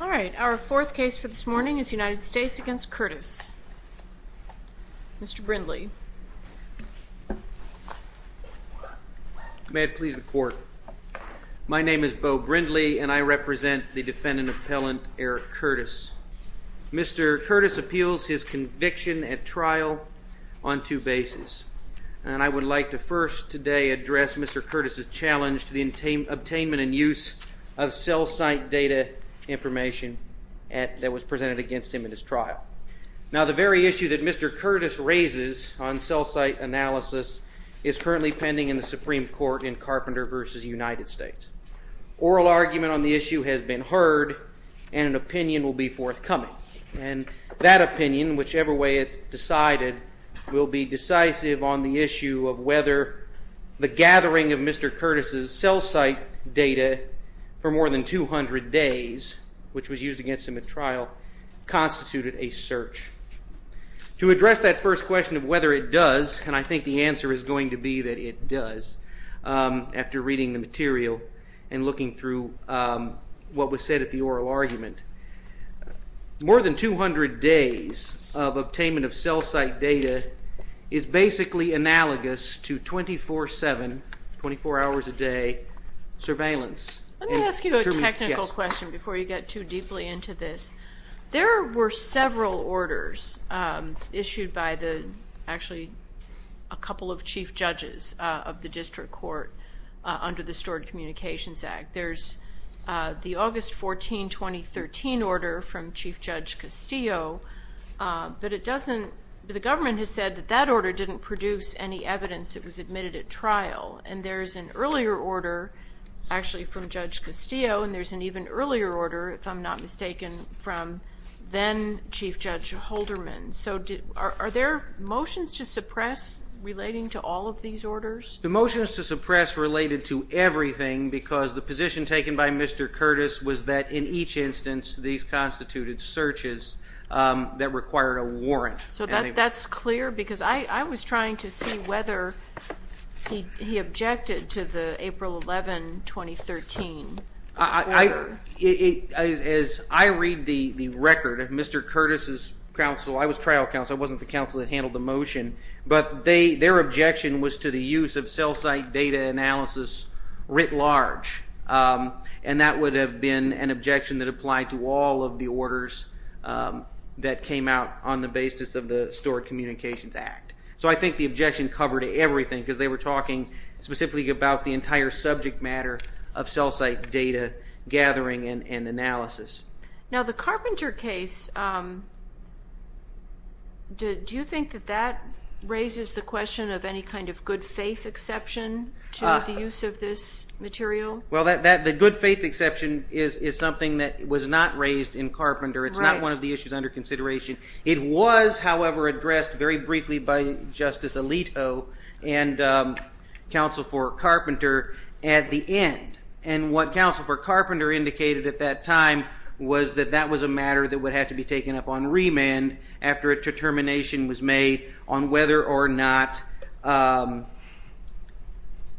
All right, our fourth case for this morning is United States v. Curtis. Mr. Brindley. May it please the court. My name is Beau Brindley and I represent the defendant appellant Eric Curtis. Mr. Curtis appeals his conviction at trial on two bases. And I would like to first today address Mr. Curtis's challenge to the obtainment and use of cell site data information that was presented against him at his trial. Now the very issue that Mr. Curtis has raised on cell site analysis is currently pending in the Supreme Court in Carpenter v. United States. Oral argument on the issue has been heard and an opinion will be forthcoming. And that opinion, whichever way it's decided, will be decisive on the issue of whether the gathering of Mr. Curtis's cell site data for more than 200 days, which was used against him at trial, constituted a search. To address that first question of whether it does, and I think the answer is going to be that it does, after reading the material and looking through what was said at the oral argument, more than 200 days of obtainment of cell site data is basically analogous to 24-7, 24 hours a day, surveillance. Let me ask you a technical question before you get too deeply into this. There were several orders issued by the, actually a couple of chief judges of the district court under the Stored Communications Act. There's the August 14, 2013 order from Chief Judge Castillo, but it doesn't, the government has said that that order didn't produce any evidence that was admitted at trial. And there's an earlier order, actually from Judge Castillo, and there's an even earlier order, if I'm not mistaken, from then Chief Judge Holderman. So are there motions to suppress relating to all of these orders? The motions to suppress related to everything, because the position taken by Mr. Curtis was that in each instance, these constituted searches that required a warrant. So that's clear? Because I was trying to see whether he objected to the April 11, 2013 order. As I read the record, Mr. Curtis' counsel, I was trial counsel, I wasn't the counsel that handled the motion, but their objection was to the use of cell site data analysis writ large. And that would have been an objection that applied to all of the orders that came out on the basis of the Stored Communications Act. So I think the objection covered everything, because they were talking specifically about the entire subject matter of cell site data gathering and analysis. Now the Carpenter case, do you think that that raises the question of any kind of good faith exception to the use of this material? Well, the good faith exception is something that was not raised in Carpenter. It's not one of the issues under consideration. It was, however, addressed very briefly by Justice Alito and Counsel for Carpenter at the end. And what Counsel for Carpenter indicated at that time was that that was a matter that would have to be taken up on remand after a determination was made on whether or not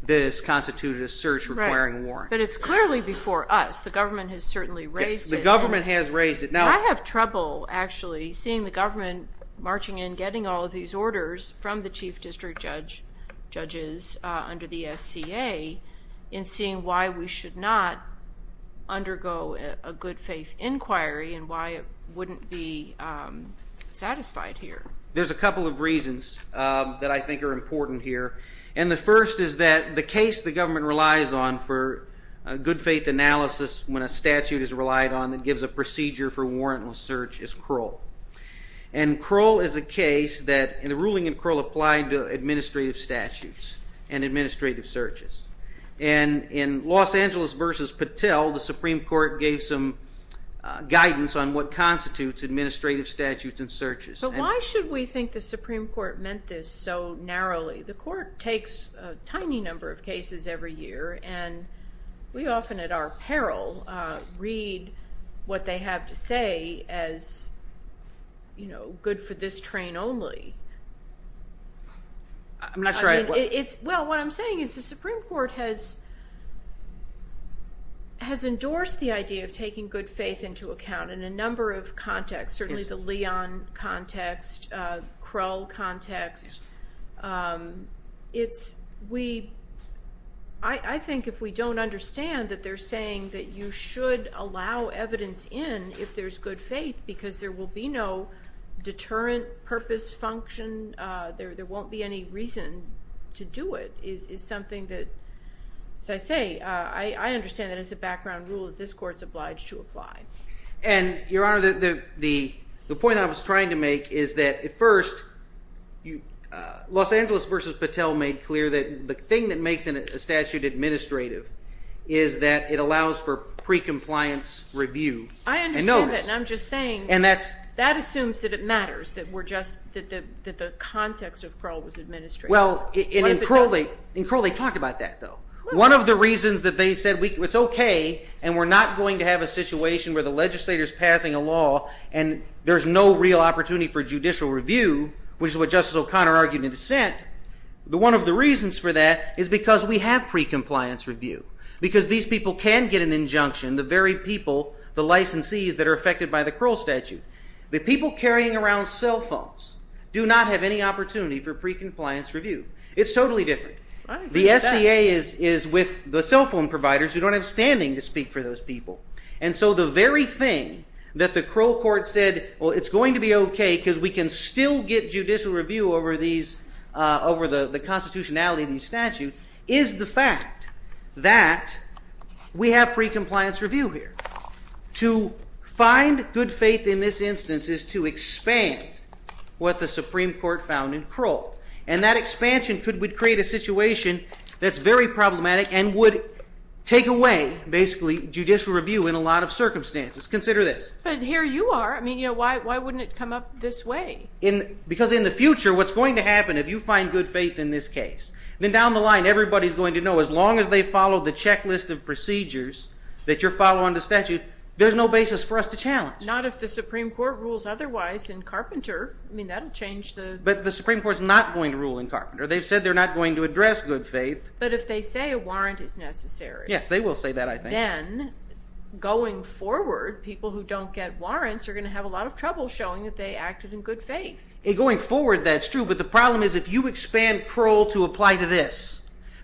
this constituted a search requiring a warrant. But it's clearly before us. The government has certainly raised it. The government has raised it. I have trouble, actually, seeing the government marching in getting all of these orders from the Chief District Judges under the SCA and seeing why we should not undergo a good faith inquiry and why it wouldn't be satisfied here. There's a couple of reasons that I think are important here. And the first is that the case the government relies on for good faith analysis when a statute is relied on that requires a warrantless search is Krull. And Krull is a case that the ruling in Krull applied to administrative statutes and administrative searches. And in Los Angeles v. Patel, the Supreme Court gave some guidance on what constitutes administrative statutes and searches. But why should we think the Supreme Court meant this so narrowly? The Court takes a read what they have to say as, you know, good for this train only. Well, what I'm saying is the Supreme Court has endorsed the idea of taking good faith into account in a number of contexts, certainly the Leon context, Krull context. I think if we don't understand that they're saying that you should allow evidence in if there's good faith because there will be no deterrent purpose function, there won't be any reason to do it is something that, as I say, I understand that as a background rule that this Court's obliged to apply. And Your Honor, the point I was trying to make is that at first Los Angeles v. Patel made clear that the thing that makes a statute administrative is that it allows for pre-compliance review and notice. I understand that, and I'm just saying that assumes that it matters that the context of Krull was administrative. Well, in Krull they talked about that, though. One of the reasons that they said it's okay and we're not going to have a situation where the legislator's passing a law and there's no real opportunity for judicial review, which is what Justice O'Connor argued in dissent, that one of the reasons for that is because we have pre-compliance review, because these people can get an injunction, the very people, the licensees that are affected by the Krull statute. The people carrying around cell phones do not have any opportunity for pre-compliance review. It's totally different. The SCA is with the cell phone providers who don't have standing to speak for those people. And so the very thing that the Krull Court said, well, it's going to be okay because we can still get judicial review over the constitutionality of these statutes, is the fact that we have pre-compliance review here. To find good faith in this instance is to expand what the Supreme Court found in Krull. And that expansion would create a situation that's very problematic and would take away basically judicial review in a lot of circumstances. Consider this. But here you are. I mean, why wouldn't it come up this way? Because in the future, what's going to happen if you find good faith in this case, then down the line, everybody's going to know, as long as they follow the checklist of procedures that you're following the statute, there's no basis for us to challenge. Not if the Supreme Court rules otherwise in Carpenter. I mean, that'll change the- But the Supreme Court's not going to rule in Carpenter. They've said they're not going to address good faith. But if they say a warrant is necessary- Yes, they will say that, I think. Then, going forward, people who don't get warrants are going to have a lot of trouble showing that they acted in good faith. Going forward, that's true. But the problem is if you expand Krull to apply to this,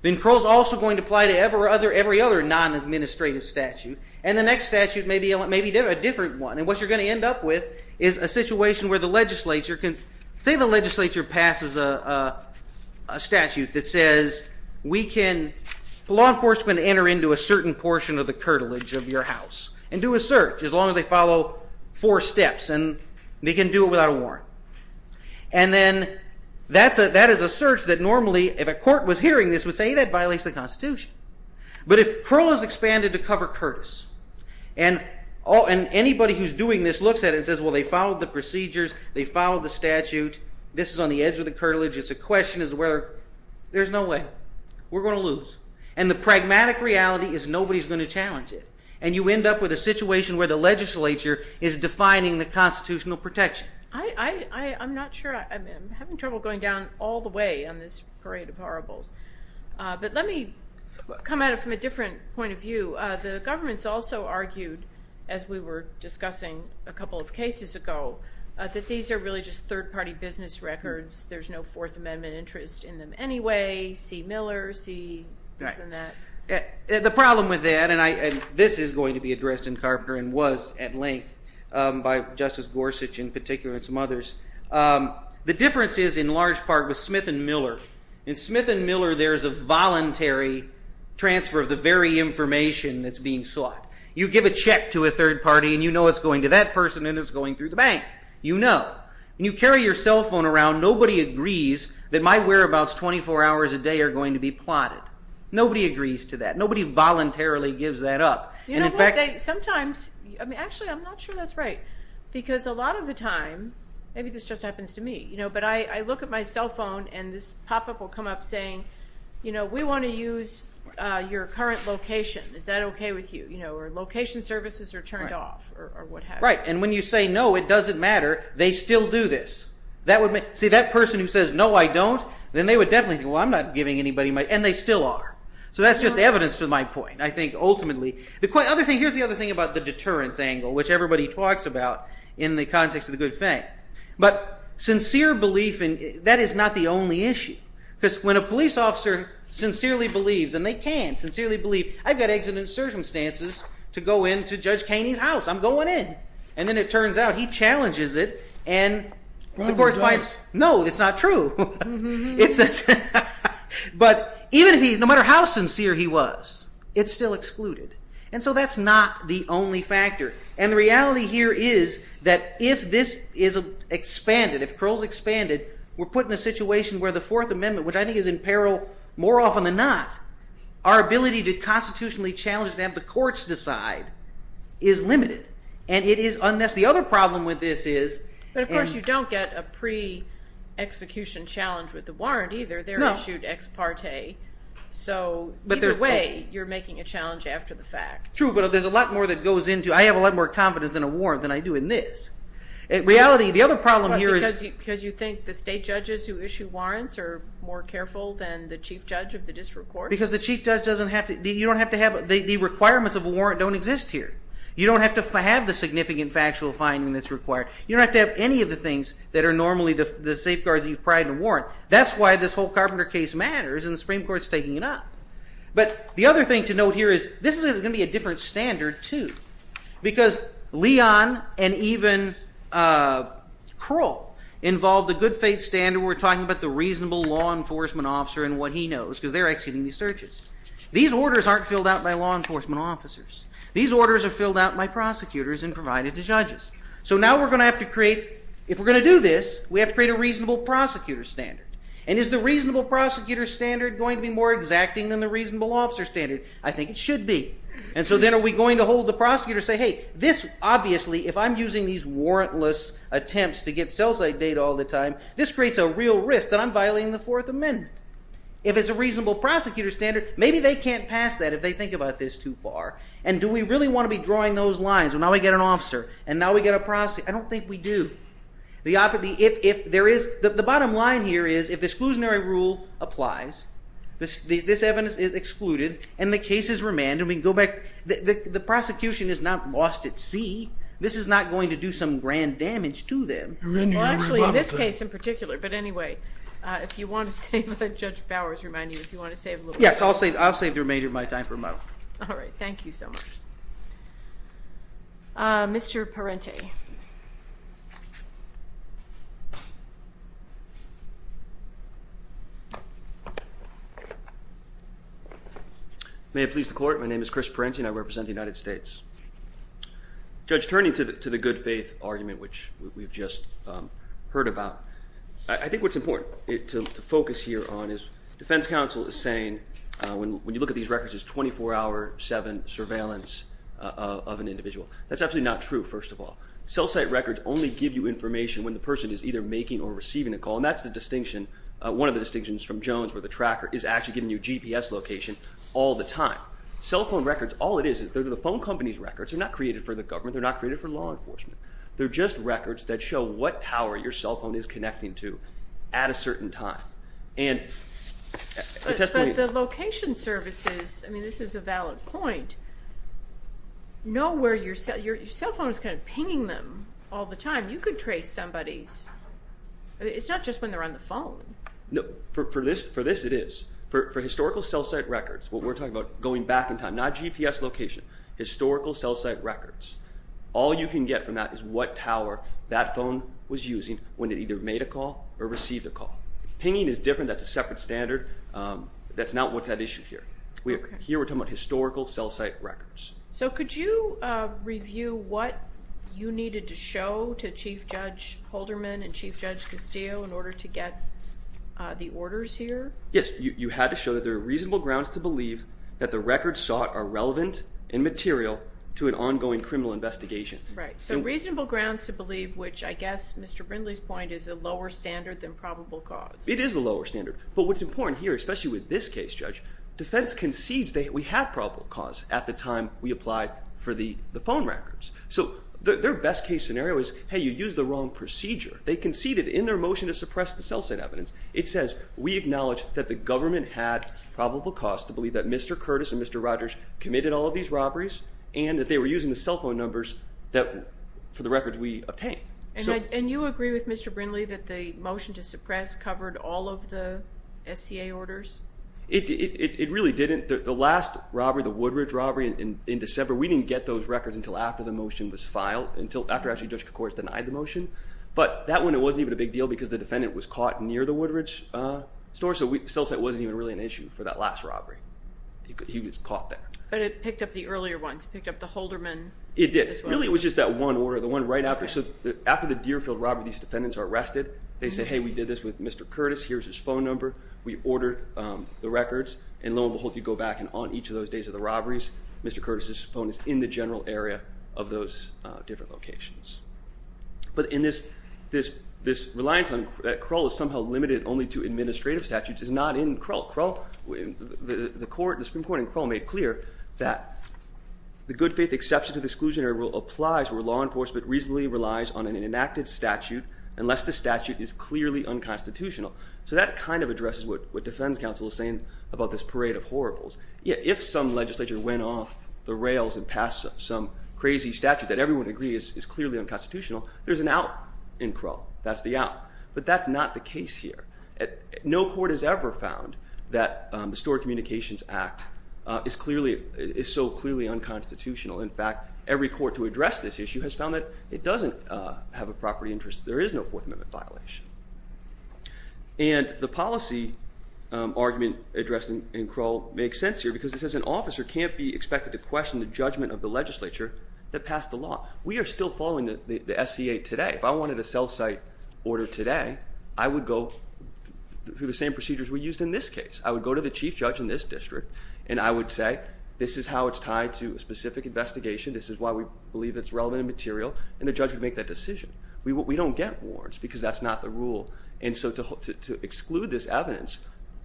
then Krull's also going to apply to every other non-administrative statute. And the next statute may be a different one. And what you're going to end up with is a situation where the legislature can- Say the legislature passes a statute that says we can- This is on the edge of the curtilage of your house, and do a search as long as they follow four steps. And they can do it without a warrant. And then that is a search that normally, if a court was hearing this, would say, hey, that violates the Constitution. But if Krull is expanded to cover Curtis, and anybody who's doing this looks at it and says, well, they followed the procedures, they followed the statute, this is on the edge of the curtilage. It's a question as to whether- There's no way. We're going to lose. And the pragmatic reality is nobody's going to challenge it. And you end up with a situation where the legislature is defining the constitutional protection. I'm not sure. I'm having trouble going down all the way on this parade of horribles. But let me come at it from a different point of view. The government's also argued, as we were discussing a couple of cases ago, that these are really just third-party business records. There's no Fourth Amendment interest in them anyway. See Miller. See this and that. The problem with that, and this is going to be addressed in Carpenter and was at length by Justice Gorsuch in particular and some others, the difference is in large part with Smith and Miller. In Smith and Miller, there's a voluntary transfer of the very information that's being sought. You give a check to a third party, and you know it's going to that person, and it's going through the bank. You know. And you carry your cell phone around. Nobody agrees that my whereabouts 24 hours a day are going to be plotted. Nobody agrees to that. Nobody voluntarily gives that up. You know what, sometimes, actually I'm not sure that's right. Because a lot of the time, maybe this just happens to me, but I look at my cell phone and this pop-up will come up saying, we want to use your current location. Is that okay with you? Location services are turned off or what have you. Right. And when you say no, it doesn't matter. They still do this. See, that person who says, no, I don't, then they would definitely think, well, I'm not giving anybody my, and they still are. So that's just evidence to my point. I think ultimately, the other thing, here's the other thing about the deterrence angle, which everybody talks about in the context of the good thing. But sincere belief in, that is not the only issue, because when a police officer sincerely believes, and they can sincerely believe, I've got exigent circumstances to go into Judge Kaney's house. I'm going in. And then it turns out he challenges it and the court finds, no, it's not true. But even if he's, no matter how sincere he was, it's still excluded. And so that's not the only factor. And the reality here is that if this is expanded, if Crowell's expanded, we're put in a situation where the Fourth Amendment, which I think is in peril more often than not, our ability to constitutionally challenge and have the courts decide is limited. And it is, unless the other problem with this is. But of course, you don't get a pre-execution challenge with the warrant either. They're issued ex parte. So either way, you're making a challenge after the fact. True. But there's a lot more that goes into, I have a lot more confidence in a warrant than I do in this. In reality, the other problem here is. Because you think the state judges who issue warrants are more careful than the chief judge of the district court? Because the chief judge doesn't have to, you don't have to have, the requirements of a warrant don't exist here. You don't have to have the significant factual finding that's required. You don't have to have any of the things that are normally the safeguards that you've pried in a warrant. That's why this whole Carpenter case matters and the Supreme Court's taking it up. But the other thing to note here is, this is going to be a different standard too. Because Leon and even Crowell involved a good faith standard where we're talking about the These orders aren't filled out by law enforcement officers. These orders are filled out by prosecutors and provided to judges. So now we're going to have to create, if we're going to do this, we have to create a reasonable prosecutor standard. And is the reasonable prosecutor standard going to be more exacting than the reasonable officer standard? I think it should be. And so then are we going to hold the prosecutor and say, hey, this obviously, if I'm using these warrantless attempts to get sell site data all the time, this creates a real risk that I'm violating the Fourth Amendment. If it's a reasonable prosecutor standard, maybe they can't pass that if they think about this too far. And do we really want to be drawing those lines? Well, now we get an officer and now we get a prosecutor. I don't think we do. The bottom line here is, if the exclusionary rule applies, this evidence is excluded and the cases remanded, we can go back. The prosecution is not lost at sea. This is not going to do some grand damage to them. Well, actually, this case in particular. But anyway, if you want to save, Judge Bowers, remind you, if you want to save a little time. Yes. I'll save the remainder of my time for a moment. All right. Thank you so much. Mr. Parente. May it please the court, my name is Chris Parente and I represent the United States. Judge, turning to the good faith argument, which we've just heard about, I think what's important to focus here on is defense counsel is saying, when you look at these records, it's 24 hour, seven surveillance of an individual. That's actually not true, first of all. Cell site records only give you information when the person is either making or receiving a call. And that's the distinction, one of the distinctions from Jones, where the tracker is actually giving you GPS location all the time. Cell phone records, all it is, they're the phone company's records, they're not created for the government, they're not created for law enforcement. They're just records that show what tower your cell phone is connecting to at a certain time. But the location services, I mean, this is a valid point. Know where your cell, your cell phone is kind of pinging them all the time. You could trace somebody's, it's not just when they're on the phone. For this, it is. For historical cell site records, what we're talking about going back in time, not GPS location, historical cell site records, all you can get from that is what tower that phone was using when they either made a call or received a call. Pinging is different, that's a separate standard. That's not what's at issue here. Here we're talking about historical cell site records. So could you review what you needed to show to Chief Judge Holderman and Chief Judge Castillo in order to get the orders here? Yes. You had to show that there are reasonable grounds to believe that the records sought are relevant and material to an ongoing criminal investigation. Right. So reasonable grounds to believe, which I guess Mr. Brindley's point is a lower standard than probable cause. It is a lower standard. But what's important here, especially with this case, Judge, defense concedes that we have probable cause at the time we applied for the phone records. So their best case scenario is, hey, you used the wrong procedure. They conceded in their motion to suppress the cell site evidence. It says, we acknowledge that the government had probable cause to believe that Mr. Curtis and Mr. Rogers committed all of these robberies and that they were using the cell phone numbers that for the records we obtained. And you agree with Mr. Brindley that the motion to suppress covered all of the SCA orders? It really didn't. The last robbery, the Woodridge robbery in December, we didn't get those records until after the motion was filed, until after actually Judge Kocouris denied the motion. But that one, it wasn't even a big deal because the defendant was caught near the Woodridge store. So the cell site wasn't even really an issue for that last robbery. He was caught there. But it picked up the earlier ones. It picked up the Holderman. It did. Really, it was just that one order. The one right after. So after the Deerfield robbery, these defendants are arrested, they say, hey, we did this with Mr. Curtis. Here's his phone number. We ordered the records. And lo and behold, you go back and on each of those days of the robberies, Mr. Curtis's phone is in the general area of those different locations. But in this reliance that Krull is somehow limited only to administrative statutes is not in Krull. Krull, the Supreme Court in Krull made clear that the good faith exception to the exclusionary rule applies where law enforcement reasonably relies on an enacted statute unless the statute is clearly unconstitutional. So that kind of addresses what defense counsel is saying about this parade of horribles. If some legislature went off the rails and passed some crazy statute that everyone would agree is clearly unconstitutional, there's an out in Krull. That's the out. But that's not the case here. No court has ever found that the Stored Communications Act is so clearly unconstitutional. In fact, every court to address this issue has found that it doesn't have a property interest. There is no Fourth Amendment violation. And the policy argument addressed in Krull makes sense here because it says an officer can't be expected to question the judgment of the legislature that passed the law. We are still following the SCA today. If I wanted a self-cite order today, I would go through the same procedures we used in this case. I would go to the chief judge in this district and I would say, this is how it's tied to a specific investigation, this is why we believe it's relevant and material, and the judge would make that decision. We don't get warrants because that's not the rule. And so to exclude this evidence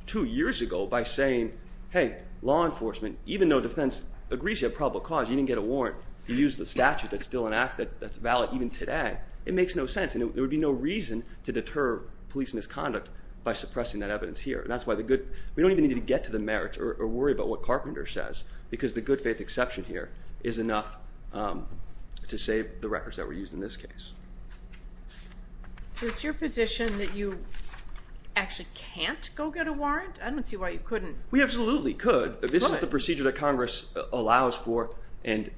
two years ago by saying, hey, law enforcement, even though defense agrees you have probable cause, you didn't get a warrant, you used the statute that's still an act that's valid even today, it makes no sense and there would be no reason to deter police misconduct by suppressing that evidence here. That's why we don't even need to get to the merits or worry about what Carpenter says because the good faith exception here is enough to save the records that were used in this case. So it's your position that you actually can't go get a warrant? I don't see why you couldn't. We absolutely could. This is the procedure that Congress allows for and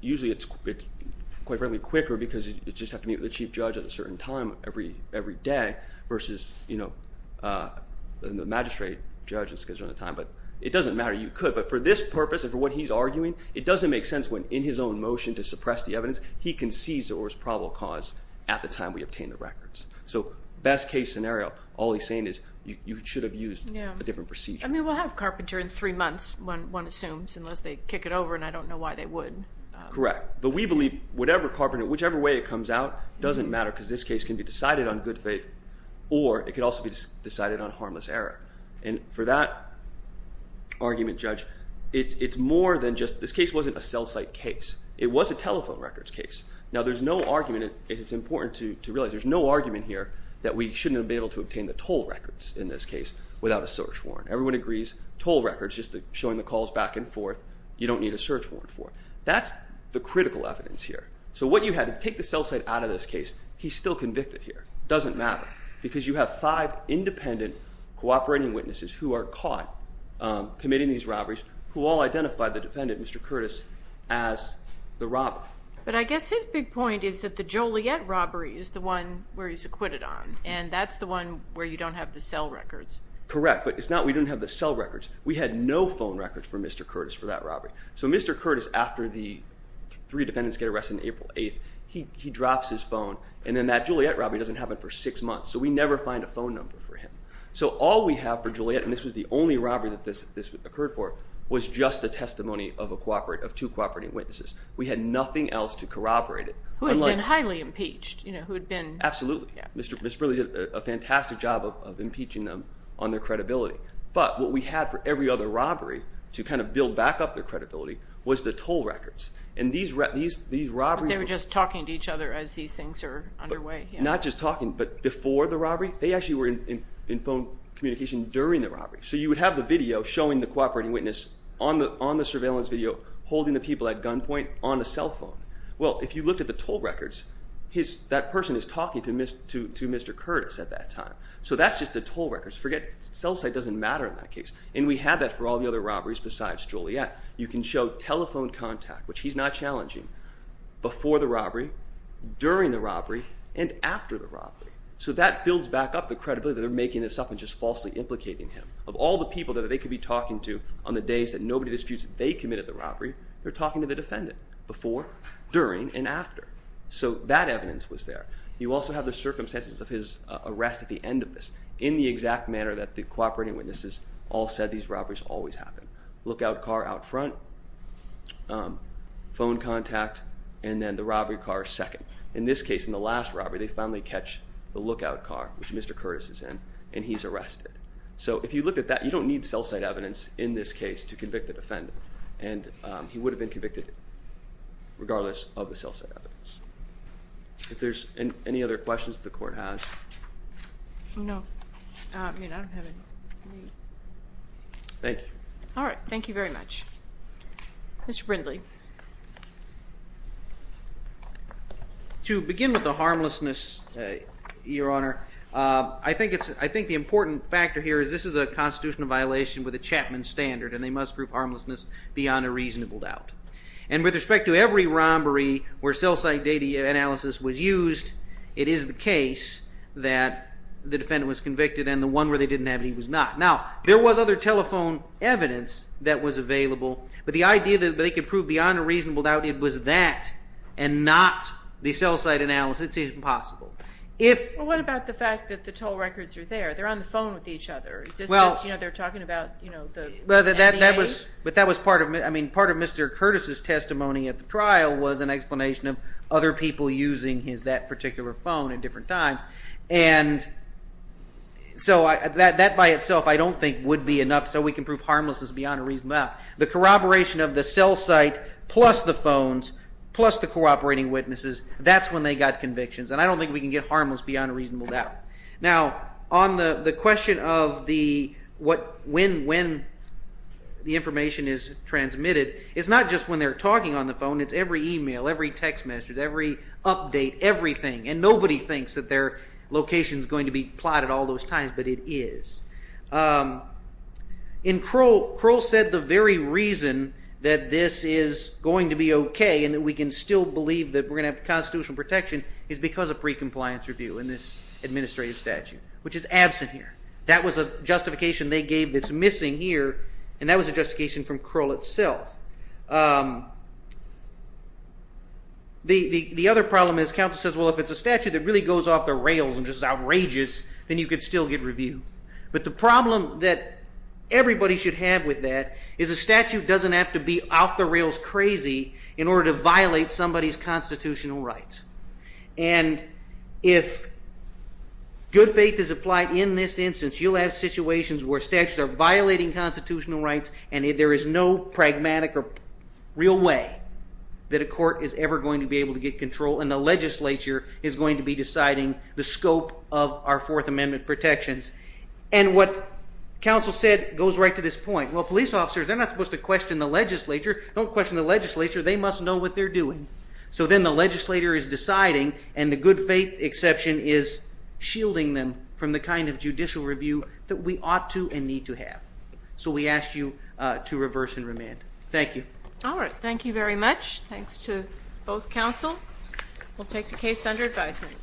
usually it's quite frankly quicker because you just have to meet with the chief judge at a certain time every day versus, you know, the magistrate judge is scheduled at a time, but it doesn't matter, you could. But for this purpose and for what he's arguing, it doesn't make sense when in his own motion to suppress the evidence, he concedes there was probable cause at the time we obtained the records. So best case scenario, all he's saying is you should have used a different procedure. I mean, we'll have Carpenter in three months, one assumes, unless they kick it over and I don't know why they would. Correct. But we believe whatever Carpenter, whichever way it comes out doesn't matter because this case can be decided on good faith or it could also be decided on harmless error. And for that argument, Judge, it's more than just, this case wasn't a cell site case. It was a telephone records case. Now there's no argument, it's important to realize there's no argument here that we shouldn't have been able to obtain the toll records in this case without a search warrant. Everyone agrees, toll records, just showing the calls back and forth, you don't need a search warrant for. That's the critical evidence here. So what you have, take the cell site out of this case, he's still convicted here. Doesn't matter. Because you have five independent cooperating witnesses who are caught committing these robberies who all identify the defendant, Mr. Curtis, as the robber. But I guess his big point is that the Joliet robbery is the one where he's acquitted on and that's the one where you don't have the cell records. Correct. But it's not, we didn't have the cell records. We had no phone records for Mr. Curtis for that robbery. So Mr. Curtis, after the three defendants get arrested on April 8th, he drops his phone and then that Joliet robbery doesn't happen for six months. So we never find a phone number for him. So all we have for Joliet, and this was the only robbery that this occurred for, was just the testimony of two cooperating witnesses. We had nothing else to corroborate it. Who had been highly impeached, you know, who had been. Absolutely. Mr. Burley did a fantastic job of impeaching them on their credibility. But what we had for every other robbery to kind of build back up their credibility was the toll records. And these robberies were- But they were just talking to each other as these things are underway. Not just talking, but before the robbery, they actually were in phone communication during the robbery. So you would have the video showing the cooperating witness on the surveillance video holding the people at gunpoint on a cell phone. Well, if you looked at the toll records, that person is talking to Mr. Curtis at that time. So that's just the toll records. Forget- cell site doesn't matter in that case. And we had that for all the other robberies besides Joliet. You can show telephone contact, which he's not challenging, before the robbery, during the robbery, and after the robbery. So that builds back up the credibility that they're making this up and just falsely implicating him. Of all the people that they could be talking to on the days that nobody disputes that they during and after. So that evidence was there. You also have the circumstances of his arrest at the end of this, in the exact manner that the cooperating witnesses all said these robberies always happen. Lookout car out front, phone contact, and then the robbery car second. In this case, in the last robbery, they finally catch the lookout car, which Mr. Curtis is in, and he's arrested. So if you look at that, you don't need cell site evidence in this case to convict the defendant. And he would have been convicted, regardless of the cell site evidence. If there's any other questions the court has. No. I mean, I don't have any. Thank you. All right. Thank you very much. Mr. Brindley. To begin with the harmlessness, Your Honor, I think the important factor here is this is a constitutional violation with a Chapman standard, and they must prove harmlessness beyond a reasonable doubt. And with respect to every robbery where cell site data analysis was used, it is the case that the defendant was convicted, and the one where they didn't have it, he was not. Now, there was other telephone evidence that was available, but the idea that they could prove beyond a reasonable doubt it was that and not the cell site analysis, it's impossible. What about the fact that the toll records are there? They're on the phone with each other. Is this just, you know, they're talking about, you know, the NCA? But that was part of, I mean, part of Mr. Curtis' testimony at the trial was an explanation of other people using that particular phone at different times. And so that by itself I don't think would be enough so we can prove harmlessness beyond a reasonable doubt. The corroboration of the cell site plus the phones plus the cooperating witnesses, that's when they got convictions. And I don't think we can get harmless beyond a reasonable doubt. Now, on the question of the what, when, when the information is transmitted, it's not just when they're talking on the phone, it's every email, every text message, every update, everything. And nobody thinks that their location is going to be plotted all those times, but it is. In Crowell, Crowell said the very reason that this is going to be okay and that we can still believe that we're going to have constitutional protection is because of pre-compliance review in this administrative statute, which is absent here. That was a justification they gave that's missing here, and that was a justification from Crowell itself. The other problem is counsel says, well, if it's a statute that really goes off the rails and just is outrageous, then you could still get review. But the problem that everybody should have with that is a statute doesn't have to be off the rails crazy in order to violate somebody's constitutional rights. And if good faith is applied in this instance, you'll have situations where statutes are violating constitutional rights, and there is no pragmatic or real way that a court is ever going to be able to get control, and the legislature is going to be deciding the scope of our Fourth Amendment protections. And what counsel said goes right to this point. Well, police officers, they're not supposed to question the legislature. Don't question the legislature. They must know what they're doing. So then the legislator is deciding, and the good faith exception is shielding them from the kind of judicial review that we ought to and need to have. So we ask you to reverse and remand. Thank you. All right. Thank you very much. Thanks to both counsel. We'll take the case under advisement.